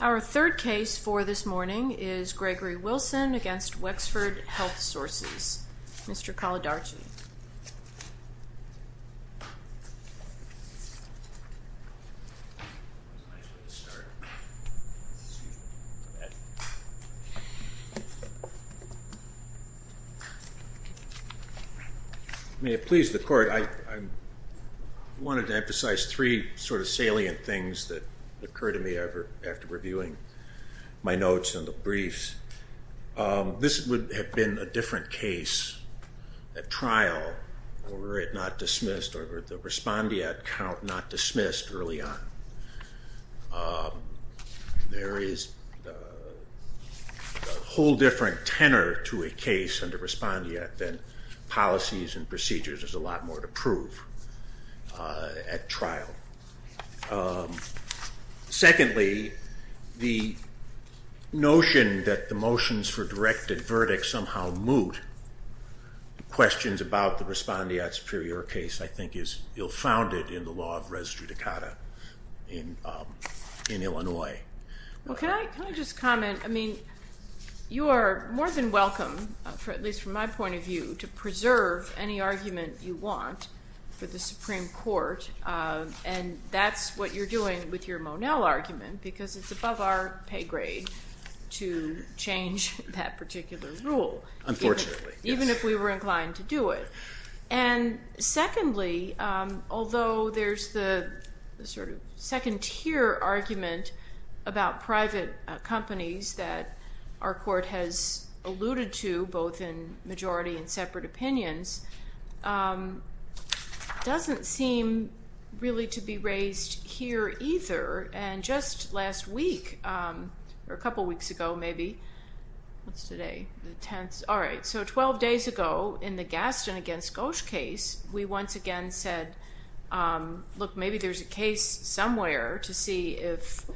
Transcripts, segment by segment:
Our third case for this morning is Gregory Wilson v. Wexford Health Sources, Mr. Kalidarchi. May it please the court, I wanted to emphasize three sort of salient things that occurred to me after reviewing my notes and the briefs. This would have been a different case at trial were it not dismissed or the respondeat count not dismissed early on. There is a whole different tenor to a case under respondeat than policies and procedures. There's a lot more to prove at trial. Secondly, the notion that the motions for directed verdict somehow moot questions about the respondeat superior case I think is ill-founded in the law of res judicata in Illinois. Can I just comment? You are more than welcome, at least from my point of view, to preserve any argument you want for the Supreme Court and that's what you're doing with your it's above our pay grade to change that particular rule, even if we were inclined to do it. Secondly, although there's the second tier argument about private companies that our court has alluded to both in majority and separate opinions, it doesn't seem really to be raised here either and just last week or a couple weeks ago maybe, what's today, the 10th, all right, so 12 days ago in the Gaston against Gosch case, we once again said, look, maybe there's a case somewhere to see if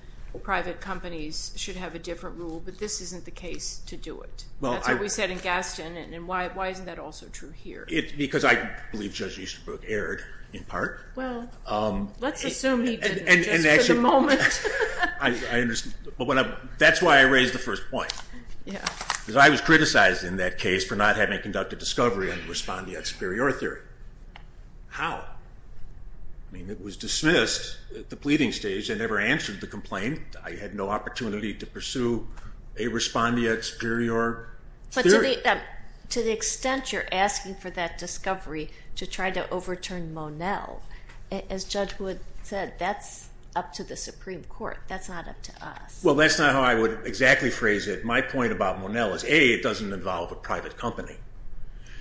private companies should have a different rule but this isn't the case to do it. That's what we said in Gaston and why isn't that also true here? Because I believe Judge Easterbrook erred in part. Well, let's assume he didn't just for the moment. That's why I raised the first point because I was criticized in that case for not having conducted discovery on the respondeat superior theory. How? It was dismissed at the pleading stage and never answered the complaint. I had no opportunity to pursue a respondeat superior theory. But to the extent you're asking for that discovery to try to overturn Monell, as Judge Wood said, that's up to the Supreme Court. That's not up to us. Well, that's not how I would exactly phrase it. My point about Monell is A, it doesn't involve a private company.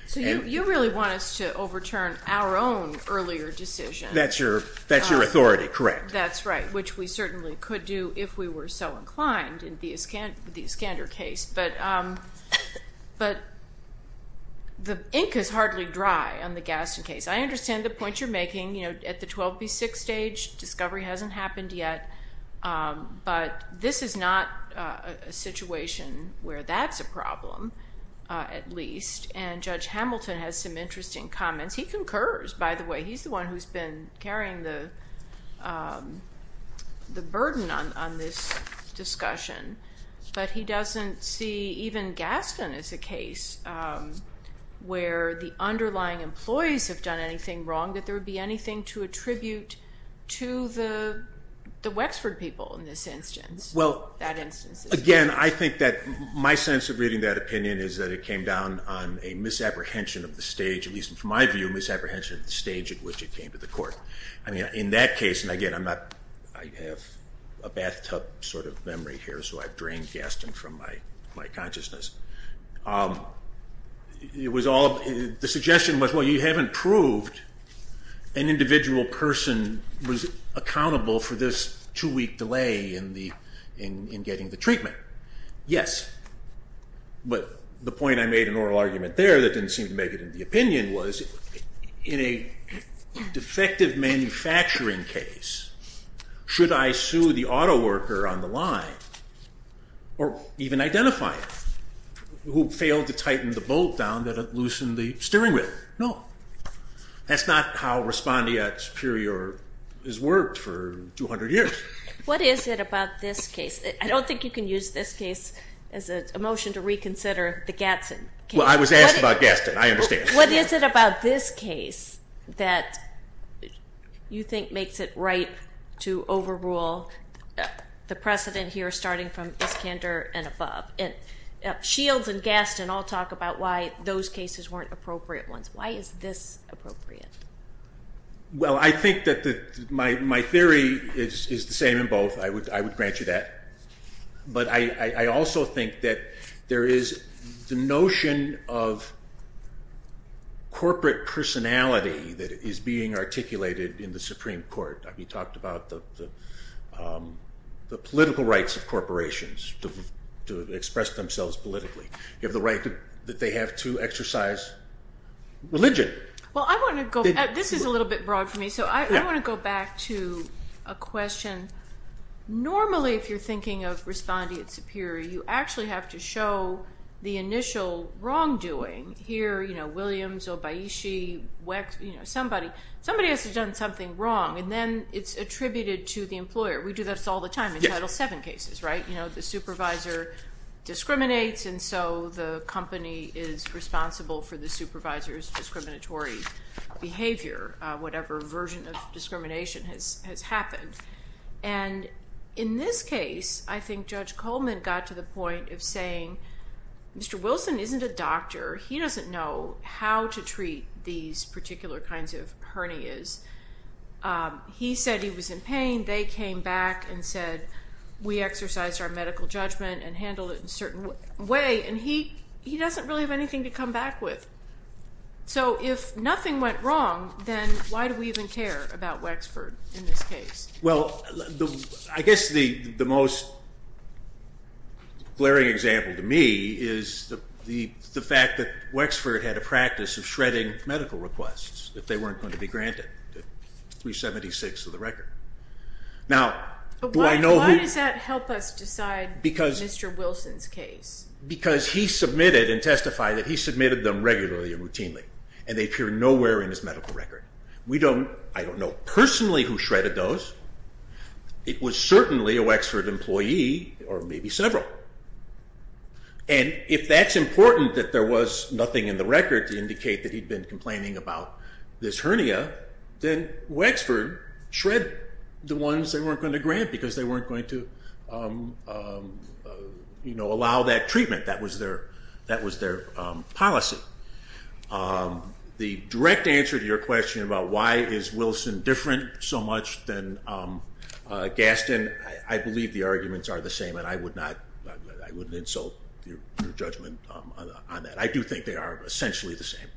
So you really want us to overturn our own earlier decision. That's your authority, correct. That's right, which we certainly could do if we were so inclined in the Iskander case. But the ink is hardly dry on the Gaston case. I understand the point you're making. At the 12B6 stage, discovery hasn't happened yet. But this is not a situation where that's a problem, at least. And Judge Hamilton has some interesting comments. He concurs, by the way. He's the one who's been carrying the burden on this discussion. But he doesn't see even Gaston as a case where the underlying employees have done anything wrong, that there would be anything to attribute to the Wexford people in this instance. Again, I think that my sense of reading that opinion is that it came down on a misapprehension of the stage, at which it came to the court. I mean, in that case, and again, I have a bathtub sort of memory here, so I've drained Gaston from my consciousness. The suggestion was, well, you haven't proved an individual person was accountable for this two-week delay in getting the treatment. Yes. But the point I made in oral argument there that didn't seem to make it into the opinion was, in a defective manufacturing case, should I sue the autoworker on the line, or even identify it, who failed to tighten the bolt down that loosened the steering wheel? No. That's not how respondeat superior has worked for 200 years. What is it about this case? I don't think you can use this case as a motion to reconsider the Gatson case. Well, I was asked about Gaston. I understand. What is it about this case that you think makes it right to overrule the precedent here, starting from Iskander and above? Shields and Gaston all talk about why those cases weren't appropriate ones. Why is this appropriate? Well, I think that my theory is the same in both. I would grant you that. But I also think that there is the notion of corporate personality that is being articulated in the Supreme Court. We talked about the political rights of corporations to express themselves politically. You have the right that they have to exercise religion. Well, this is a little bit broad for me, so I want to go back to a question. Normally, if you're thinking of respondeat superior, you actually have to show the initial wrongdoing. Here, Williams, Obayishi, somebody else has done something wrong, and then it's attributed to the employer. We do this all the time in Title VII cases, right? The supervisor discriminates, and so the company is responsible for the supervisor's discriminatory behavior, whatever version of discrimination has happened. In this case, I think Judge Coleman got to the point of saying, Mr. Wilson isn't a doctor. He doesn't know how to treat these particular kinds of hernias. He said he was in pain. They came back and said, we exercised our medical judgment and handled it in a certain way, and he doesn't really have anything to come back with. So if nothing went wrong, then why do we even care about Wexford in this case? Well, I guess the most glaring example to me is the fact that Wexford had a practice of shredding medical requests if they weren't going to be granted 376 of the record. Why does that help us decide Mr. Wilson's case? Because he submitted and testified that he submitted them regularly and routinely, and they appear nowhere in his medical record. I don't know personally who shredded those. It was certainly a Wexford employee or maybe several, and if that's important that there was nothing in the record to indicate that he'd been complaining about this hernia, then Wexford shred the ones they weren't going to grant because they weren't going to allow that treatment. That was their policy. The direct answer to your question about why is Wilson different so much than Gaston, I believe the arguments are the same, and I wouldn't insult your judgment on that. I do think they are essentially the same.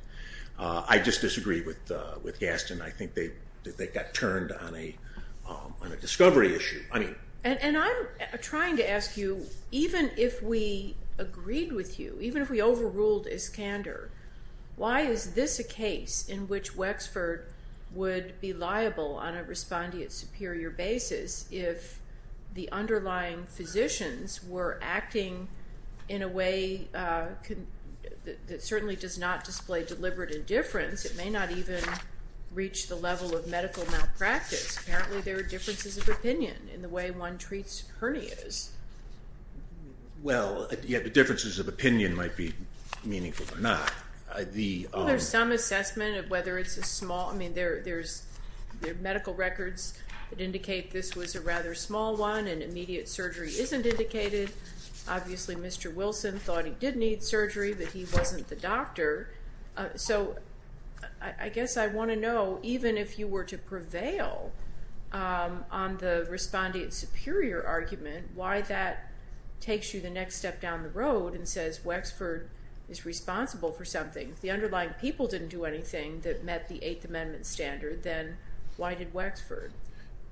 I just disagree with Gaston. I think they got turned on a discovery issue. And I'm trying to ask you, even if we agreed with you, even if we overruled Iskander, why is this a case in which Wexford would be liable on a respondeat superior basis if the underlying physicians were acting in a way that certainly does not display deliberate indifference? It may not even reach the level of medical malpractice. Apparently there are differences of opinion in the way one treats hernias. Well, yeah, the differences of opinion might be meaningful or not. Well, there's some assessment of whether it's a small, I mean, there are medical records that indicate this was a rather small one and immediate surgery isn't indicated. Obviously, Mr. Wilson thought he did need surgery, but he wasn't the doctor. So I guess I want to know, even if you were to prevail on the respondeat superior argument, why that takes you the next step down the road and says Wexford is responsible for something. If the underlying people didn't do anything that met the Eighth Amendment standard, then why did Wexford?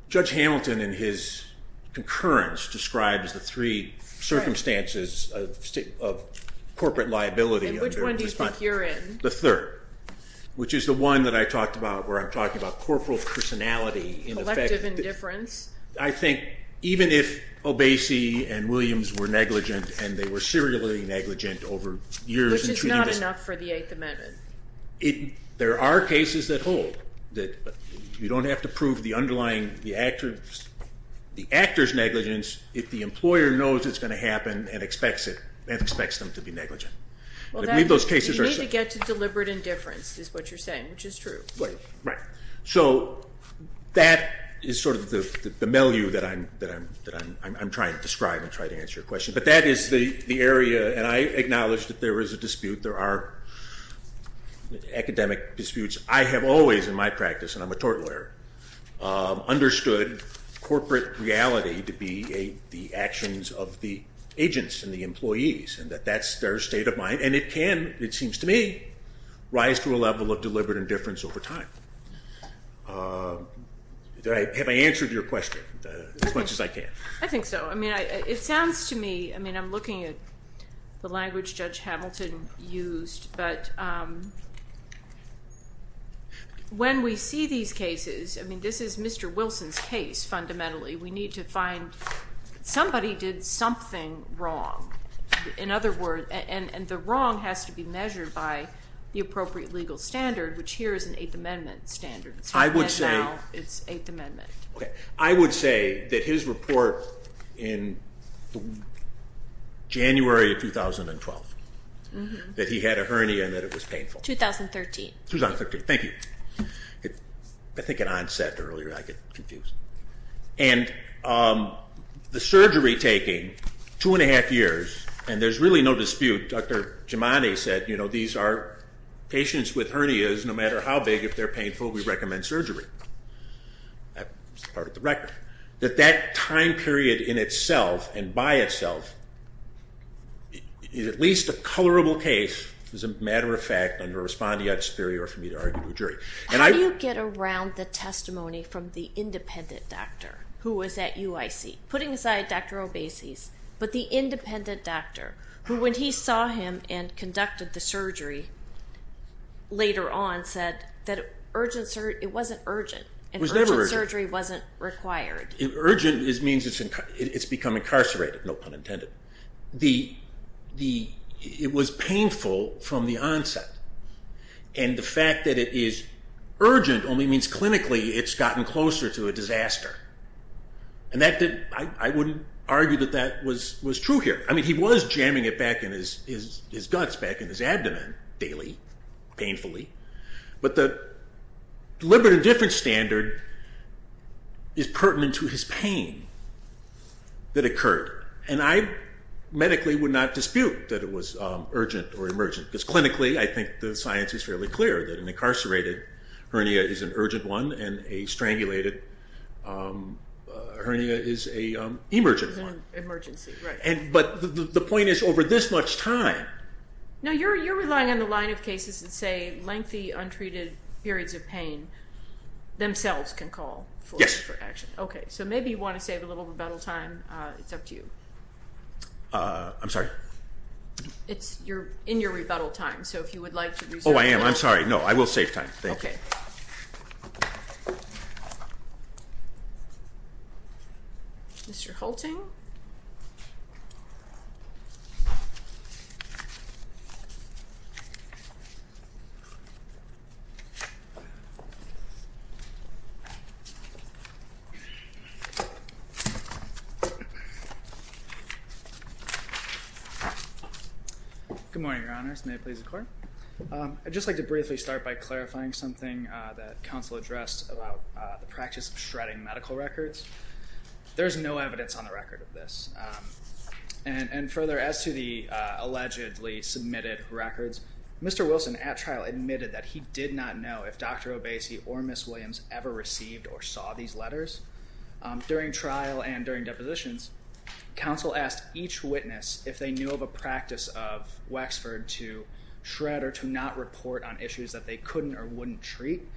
Judge Hamilton in his concurrence describes the three circumstances of corporate liability. And which one do you think you're in? The third, which is the one that I talked about where I'm talking about corporal personality. Collective indifference. I think even if Obese and Williams were negligent and they were serially negligent over years. Which is not enough for the Eighth Amendment. There are cases that hold that you don't have to prove the underlying, the actor's negligence if the employer knows it's going to happen and expects them to be negligent. You need to get to deliberate indifference is what you're saying, which is true. Right. So that is sort of the milieu that I'm trying to describe and try to answer your question. But that is the area, and I acknowledge that there is a dispute. There are academic disputes. I have always in my practice, and I'm a tort lawyer, understood corporate reality to be the actions of the agents and the employees and that that's their state of mind. And it can, it seems to me, rise to a level of deliberate indifference over time. Have I answered your question as much as I can? I think so. I mean, it sounds to me, I mean, I'm looking at the language Judge Hamilton used, but when we see these cases, I mean, this is Mr. Wilson's case fundamentally. We need to find somebody did something wrong. In other words, and the wrong has to be measured by the appropriate legal standard, which here is an Eighth Amendment standard. I would say. And now it's Eighth Amendment. Okay. I would say that his report in January of 2012, that he had a hernia and that it was painful. 2013. 2013. Thank you. I think it onset earlier. I get confused. And the surgery taking two and a half years, and there's really no dispute. Dr. Giamatti said, you know, these are patients with hernias. No matter how big, if they're painful, we recommend surgery. That's part of the record. That that time period in itself and by itself is at least a colorable case, as a matter of fact, under respondeat superior for me to argue to a jury. How do you get around the testimony from the independent doctor who was at UIC? Putting aside Dr. Obese's, but the independent doctor, who when he saw him and conducted the surgery later on said that it wasn't urgent. It was never urgent. And urgent surgery wasn't required. Urgent means it's become incarcerated, no pun intended. It was painful from the onset. And the fact that it is urgent only means clinically it's gotten closer to a disaster. And I wouldn't argue that that was true here. I mean, he was jamming it back in his guts, back in his abdomen daily, painfully. But the deliberate indifference standard is pertinent to his pain that occurred. And I medically would not dispute that it was urgent or emergent. Because clinically I think the science is fairly clear that an incarcerated hernia is an urgent one and a strangulated hernia is an emergent one. Emergency, right. But the point is over this much time. Now you're relying on the line of cases that say lengthy, untreated periods of pain themselves can call for action. Yes. Okay. So maybe you want to save a little rebuttal time. It's up to you. I'm sorry. It's in your rebuttal time. So if you would like to reserve that. Oh, I am. I'm sorry. No, I will save time. Thank you. Okay. Mr. Hulting. Good morning, Your Honors. May it please the Court. I'd just like to briefly start by clarifying something that counsel addressed about the practice of shredding medical records. There is no evidence on the record of this. And further, as to the allegedly submitted records, Mr. Wilson at trial admitted that he did not know if Dr. Obese or Ms. Williams ever received or saw these letters. During trial and during depositions, counsel asked each witness if they knew of a practice of Wexford to shred or to not report on issues that they couldn't or wouldn't treat.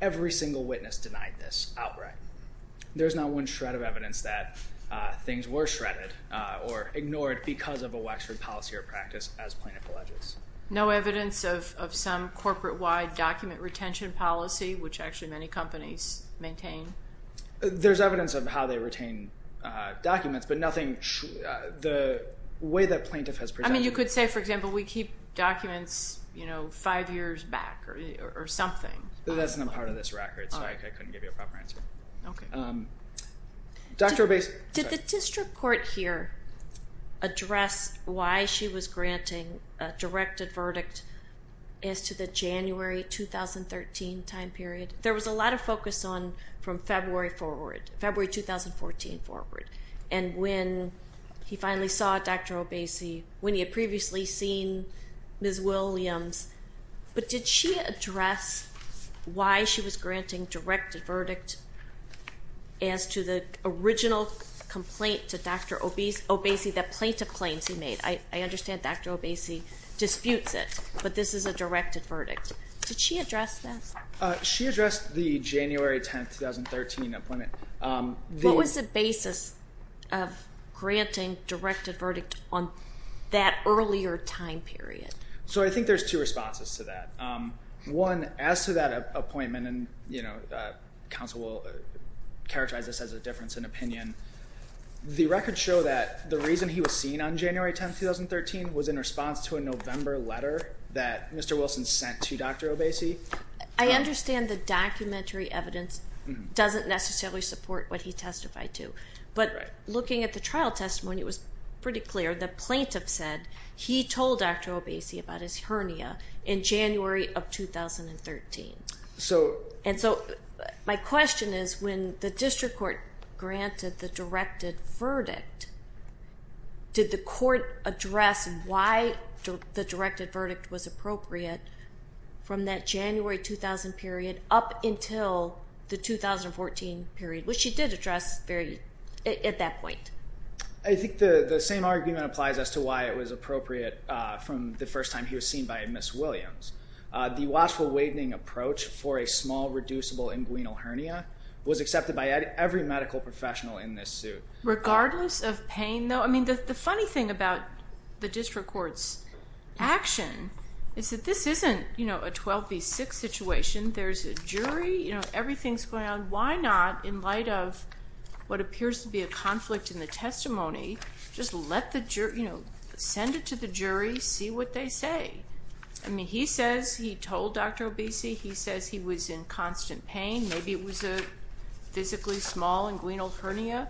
Every single witness denied this outright. There's not one shred of evidence that things were shredded or ignored because of a Wexford policy or practice as plaintiff alleges. No evidence of some corporate-wide document retention policy, which actually many companies maintain? There's evidence of how they retain documents, but nothing... the way that plaintiff has presented... I mean, you could say, for example, we keep documents five years back or something. That's not part of this record, so I couldn't give you a proper answer. Okay. Dr. Obese...... as to the January 2013 time period. There was a lot of focus on from February forward, February 2014 forward. And when he finally saw Dr. Obese, when he had previously seen Ms. Williams, but did she address why she was granting directed verdict as to the original complaint to Dr. Obese that plaintiff claims he made? I understand Dr. Obese disputes it, but this is a directed verdict. Did she address this? She addressed the January 10, 2013 appointment. What was the basis of granting directed verdict on that earlier time period? So I think there's two responses to that. One, as to that appointment, and counsel will characterize this as a difference in opinion, the records show that the reason he was seen on January 10, 2013 was in response to a November letter that Mr. Wilson sent to Dr. Obese. I understand the documentary evidence doesn't necessarily support what he testified to, but looking at the trial testimony, it was pretty clear the plaintiff said he told Dr. Obese about his hernia in January of 2013. And so my question is when the district court granted the directed verdict, did the court address why the directed verdict was appropriate from that January 2000 period up until the 2014 period, which she did address at that point. I think the same argument applies as to why it was appropriate from the first time he was seen by Ms. Williams. The watchful waiting approach for a small, reducible inguinal hernia was accepted by every medical professional in this suit. Regardless of pain, though? I mean, the funny thing about the district court's action is that this isn't a 12 v. 6 situation. There's a jury. Everything's going on. Why not, in light of what appears to be a conflict in the testimony, just send it to the jury, see what they say? I mean, he says he told Dr. Obese. He says he was in constant pain. Maybe it was a physically small inguinal hernia,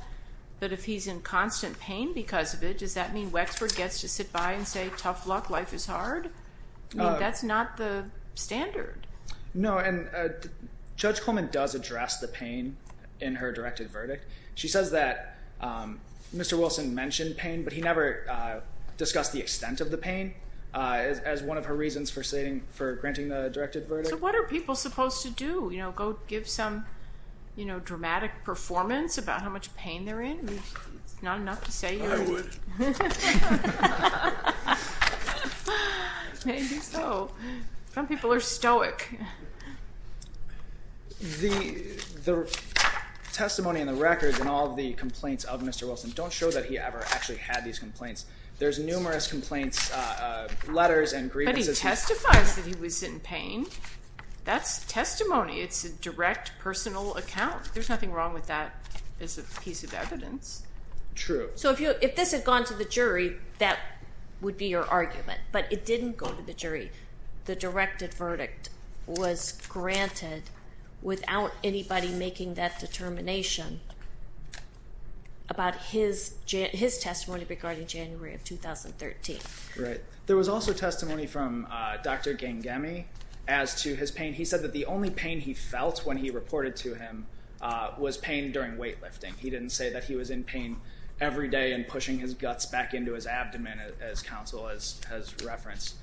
but if he's in constant pain because of it, does that mean Wexford gets to sit by and say, tough luck, life is hard? I mean, that's not the standard. No, and Judge Coleman does address the pain in her directed verdict. She says that Mr. Wilson mentioned pain, but he never discussed the extent of the pain. That's one of her reasons for granting the directed verdict. So what are people supposed to do? Go give some dramatic performance about how much pain they're in? It's not enough to say you would. I would. Maybe so. Some people are stoic. The testimony and the records and all of the complaints of Mr. Wilson don't show that he ever actually had these complaints. There's numerous complaints, letters and grievances. But he testifies that he was in pain. That's testimony. It's a direct personal account. There's nothing wrong with that as a piece of evidence. True. So if this had gone to the jury, that would be your argument. But it didn't go to the jury. The directed verdict was granted without anybody making that determination about his testimony regarding January of 2013. Right. There was also testimony from Dr. Gangemi as to his pain. He said that the only pain he felt when he reported to him was pain during weightlifting. He didn't say that he was in pain every day and pushing his guts back into his abdomen, as counsel has referenced.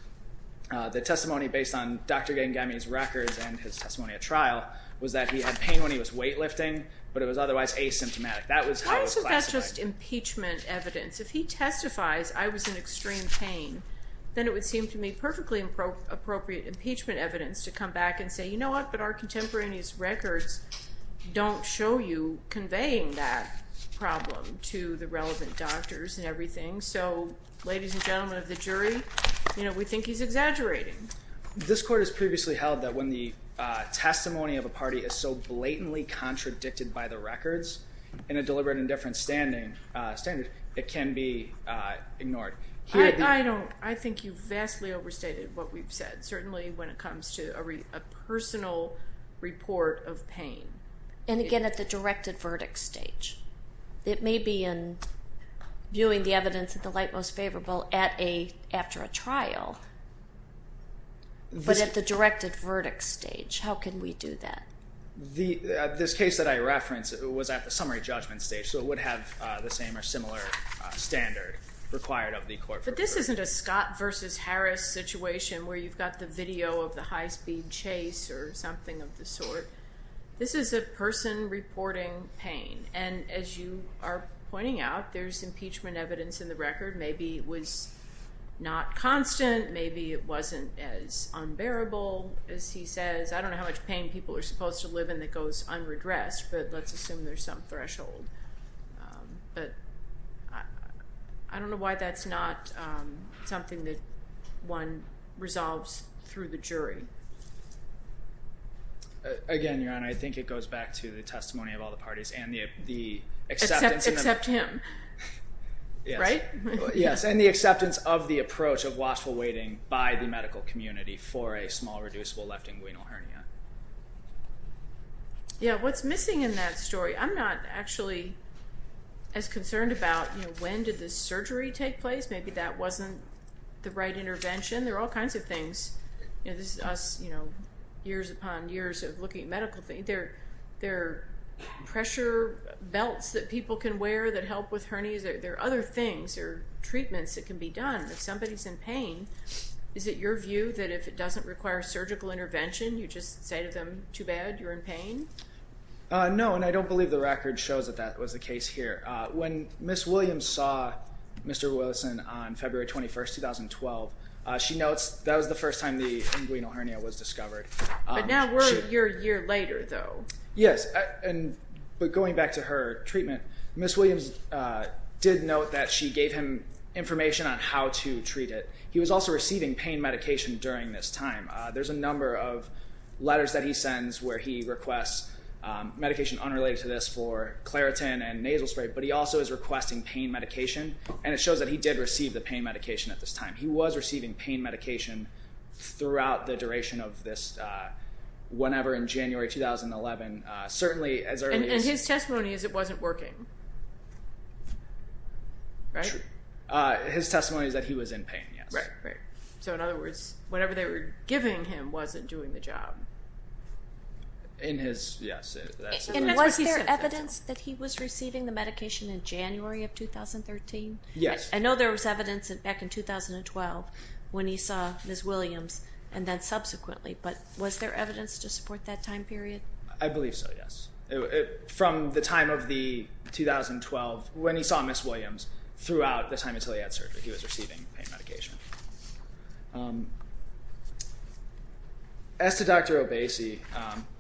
The testimony based on Dr. Gangemi's records and his testimony at trial was that he had pain when he was weightlifting, but it was otherwise asymptomatic. Why isn't that just impeachment evidence? If he testifies I was in extreme pain, then it would seem to me perfectly appropriate impeachment evidence to come back and say, you know what, but our contemporaneous records don't show you conveying that problem to the relevant doctors and everything. So, ladies and gentlemen of the jury, we think he's exaggerating. This court has previously held that when the testimony of a party is so blatantly contradicted by the records in a deliberate and indifferent standard, it can be ignored. I think you vastly overstated what we've said, certainly when it comes to a personal report of pain. And again, at the directed verdict stage. It may be in viewing the evidence at the light most favorable after a trial, but at the directed verdict stage, how can we do that? This case that I referenced was at the summary judgment stage, so it would have the same or similar standard required of the court. But this isn't a Scott versus Harris situation where you've got the video of the high-speed chase or something of the sort. This is a person reporting pain. And as you are pointing out, there's impeachment evidence in the record. Maybe it was not constant. Maybe it wasn't as unbearable as he says. I don't know how much pain people are supposed to live in that goes unredressed, but let's assume there's some threshold. But I don't know why that's not something that one resolves through the jury. Again, Your Honor, I think it goes back to the testimony of all the parties and the acceptance. Except him. Right? Yes, and the acceptance of the approach of watchful waiting by the medical community for a small, reducible left inguinal hernia. Yeah, what's missing in that story? I'm not actually as concerned about when did the surgery take place. Maybe that wasn't the right intervention. There are all kinds of things. This is us years upon years of looking at medical things. There are pressure belts that people can wear that help with hernias. There are other things or treatments that can be done if somebody's in pain. Is it your view that if it doesn't require surgical intervention, you just say to them, too bad, you're in pain? No, and I don't believe the record shows that that was the case here. When Ms. Williams saw Mr. Wilson on February 21, 2012, she notes that was the first time the inguinal hernia was discovered. But now we're a year later, though. Yes, but going back to her treatment, Ms. Williams did note that she gave him information on how to treat it. He was also receiving pain medication during this time. There's a number of letters that he sends where he requests medication unrelated to this for claritin and nasal spray, but he also is requesting pain medication, and it shows that he did receive the pain medication at this time. He was receiving pain medication throughout the duration of this, whenever in January 2011, certainly as early as... And his testimony is it wasn't working, right? True. His testimony is that he was in pain, yes. Right, right. So in other words, whatever they were giving him wasn't doing the job. In his, yes. And was there evidence that he was receiving the medication in January of 2013? Yes. I know there was evidence back in 2012 when he saw Ms. Williams and then subsequently, but was there evidence to support that time period? I believe so, yes. From the time of the 2012, when he saw Ms. Williams, throughout the time until he had surgery, he was receiving pain medication. As to Dr. Obese,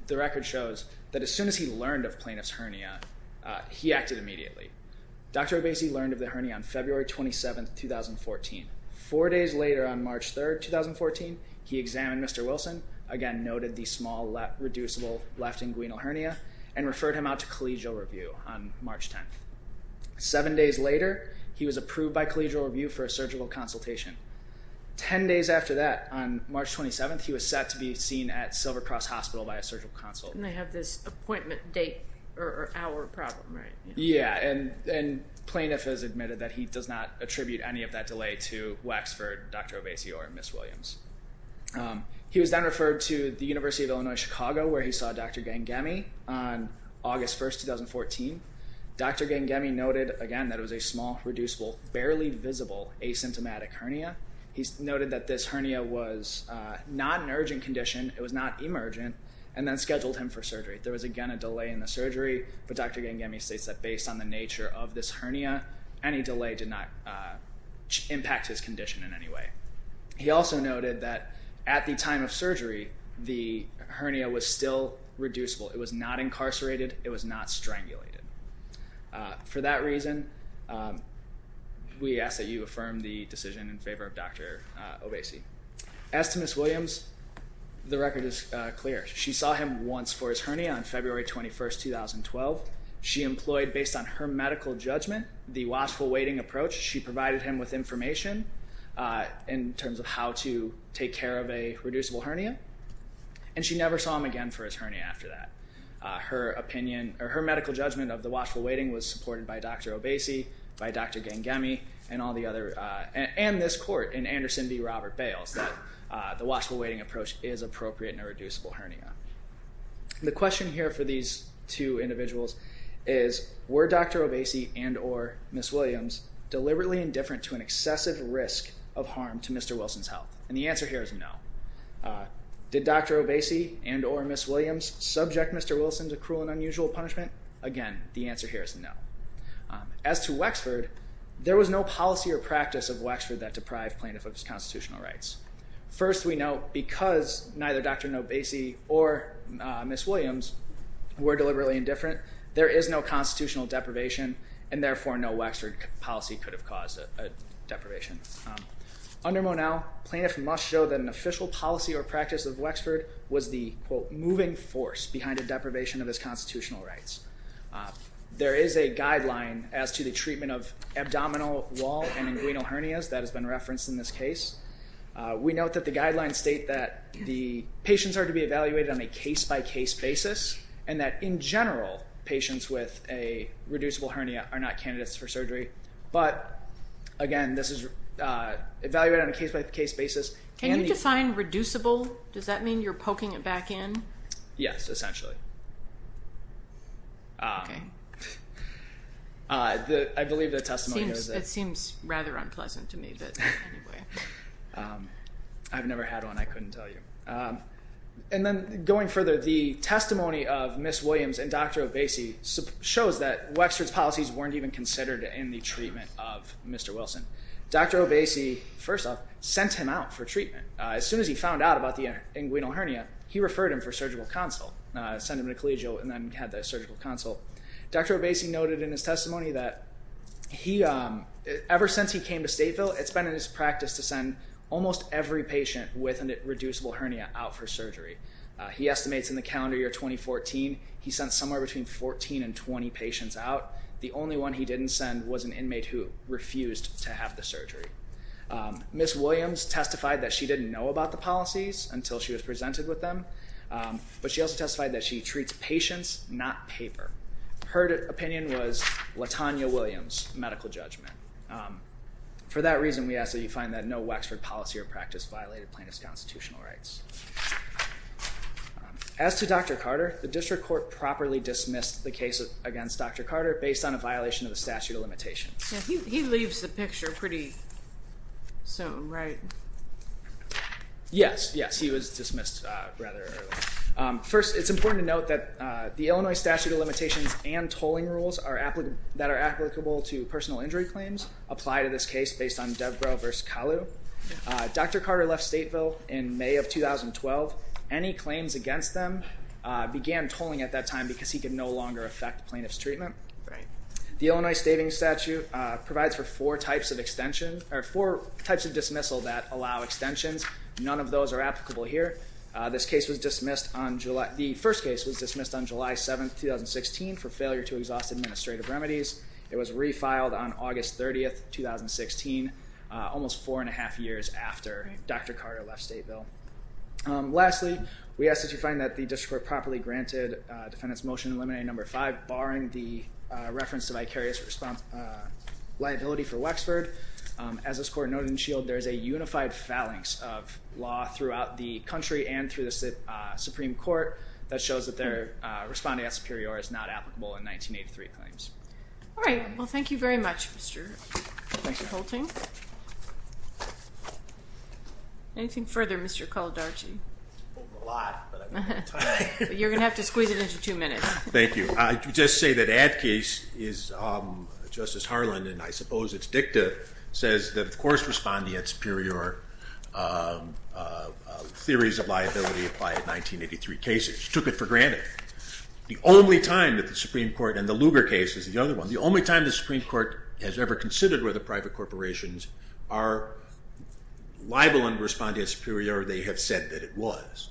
the record shows that as soon as he learned of plaintiff's hernia, he acted immediately. Dr. Obese learned of the hernia on February 27th, 2014. Four days later, on March 3rd, 2014, he examined Mr. Wilson, again noted the small, reducible left inguinal hernia, and referred him out to collegial review on March 10th. Seven days later, he was approved by collegial review for a surgical consultation. Ten days after that, on March 27th, he was set to be seen at Silver Cross Hospital by a surgical consultant. And they have this appointment date or hour problem, right? Yeah, and plaintiff has admitted that he does not attribute any of that delay to Wexford, Dr. Obese, or Ms. Williams. He was then referred to the University of Illinois, Chicago, where he saw Dr. Gangemi on August 1st, 2014. Dr. Gangemi noted, again, that it was a small, reducible, barely visible asymptomatic hernia. He noted that this hernia was not an urgent condition, it was not emergent, and then scheduled him for surgery. There was, again, a delay in the surgery, but Dr. Gangemi states that based on the nature of this hernia, any delay did not impact his condition in any way. He also noted that at the time of surgery, the hernia was still reducible. It was not incarcerated, it was not strangulated. For that reason, we ask that you affirm the decision in favor of Dr. Obese. As to Ms. Williams, the record is clear. She saw him once for his hernia on February 21st, 2012. She employed, based on her medical judgment, the watchful waiting approach. She provided him with information in terms of how to take care of a reducible hernia, and she never saw him again for his hernia after that. Her medical judgment of the watchful waiting was supported by Dr. Obese, by Dr. Gangemi, and all the other, and this court, in Anderson v. Robert Bales, that the watchful waiting approach is appropriate in a reducible hernia. The question here for these two individuals is, were Dr. Obese and or Ms. Williams deliberately indifferent to an excessive risk of harm to Mr. Wilson's health? And the answer here is no. Did Dr. Obese and or Ms. Williams subject Mr. Wilson to cruel and unusual punishment? Again, the answer here is no. As to Wexford, there was no policy or practice of Wexford that deprived plaintiff of his constitutional rights. First, we note, because neither Dr. Obese or Ms. Williams were deliberately indifferent, there is no constitutional deprivation, and therefore no Wexford policy could have caused a deprivation. Under Monell, plaintiff must show that an official policy or practice of Wexford was the, quote, moving force behind a deprivation of his constitutional rights. There is a guideline as to the treatment of abdominal wall and inguinal hernias that has been referenced in this case. We note that the guidelines state that the patients are to be evaluated on a case-by-case basis, and that, in general, patients with a reducible hernia are not candidates for surgery. But, again, this is evaluated on a case-by-case basis. Can you define reducible? Does that mean you're poking it back in? Yes, essentially. Okay. I believe the testimony was that— It seems rather unpleasant to me, but anyway. I've never had one. I couldn't tell you. And then, going further, the testimony of Ms. Williams and Dr. Obese shows that Wexford's policies weren't even considered in the treatment of Mr. Wilson. Dr. Obese, first off, sent him out for treatment. As soon as he found out about the inguinal hernia, he referred him for surgical consult. Sent him to collegial and then had the surgical consult. Dr. Obese noted in his testimony that, ever since he came to Stateville, it's been in his practice to send almost every patient with a reducible hernia out for surgery. He estimates in the calendar year 2014, he sent somewhere between 14 and 20 patients out. The only one he didn't send was an inmate who refused to have the surgery. Ms. Williams testified that she didn't know about the policies until she was presented with them, but she also testified that she treats patients, not paper. Her opinion was LaTanya Williams, medical judgment. For that reason, we ask that you find that no Wexford policy or practice violated plaintiff's constitutional rights. As to Dr. Carter, the district court properly dismissed the case against Dr. Carter based on a violation of the statute of limitations. He leaves the picture pretty soon, right? Yes, yes, he was dismissed rather early. First, it's important to note that the Illinois statute of limitations and tolling rules that are applicable to personal injury claims apply to this case based on DevGro versus Calou. Dr. Carter left Stateville in May of 2012. Any claims against them began tolling at that time because he could no longer affect plaintiff's treatment. Right. The Illinois stating statute provides for four types of extension or four types of dismissal that allow extensions. None of those are applicable here. This case was dismissed on July. The first case was dismissed on July 7th, 2016 for failure to exhaust administrative remedies. It was refiled on August 30th, 2016, almost four and a half years after Dr. Carter left Stateville. Lastly, we ask that you find that the district court properly granted defendant's motion eliminating number five, barring the reference to vicarious liability for Wexford. As this court noted in the shield, there is a unified phalanx of law throughout the country and through the Supreme Court that shows that their responding as superior is not applicable in 1983 claims. All right. Well, thank you very much, Mr. Holting. Thank you. Anything further, Mr. Kaldarchi? A lot, but I'm running out of time. You're going to have to squeeze it into two minutes. Thank you. I would just say that add case is Justice Harlan, and I suppose it's dicta, says that of course responding at superior theories of liability apply in 1983 cases. She took it for granted. The only time that the Supreme Court, and the Lugar case is the other one, the only time the Supreme Court has ever considered whether private corporations are liable in responding at superior, they have said that it was.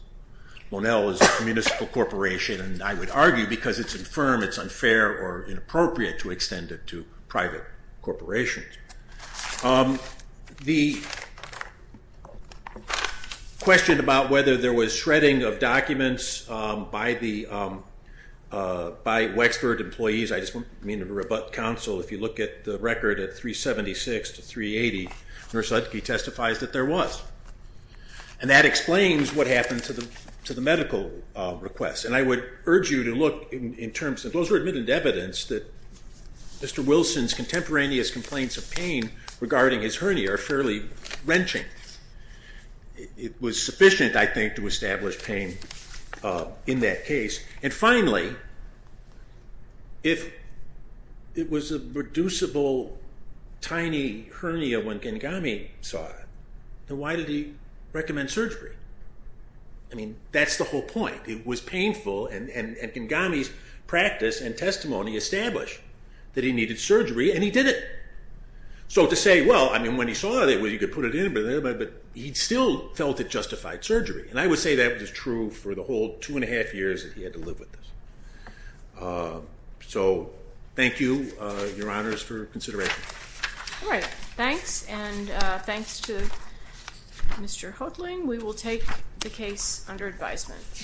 Monel is a municipal corporation, and I would argue because it's infirm, it's unfair or inappropriate to extend it to private corporations. The question about whether there was shredding of documents by Wexford employees, I just don't mean to rebut counsel. If you look at the record at 376 to 380, Nurse Lutke testifies that there was. And that explains what happened to the medical requests. And I would urge you to look in terms of those are admitted evidence that Mr. Wilson's contemporaneous complaints of pain regarding his hernia are fairly wrenching. It was sufficient, I think, to establish pain in that case. And finally, if it was a reducible, tiny hernia when Gengame saw it, then why did he recommend surgery? I mean, that's the whole point. It was painful, and Gengame's practice and testimony established that he needed surgery, and he did it. So to say, well, I mean, when he saw it, he could put it in, but he still felt it justified surgery. And I would say that was true for the whole two and a half years that he had to live with this. So thank you, Your Honors, for consideration. All right. Thanks, and thanks to Mr. Hodling. We will take the case under advisement.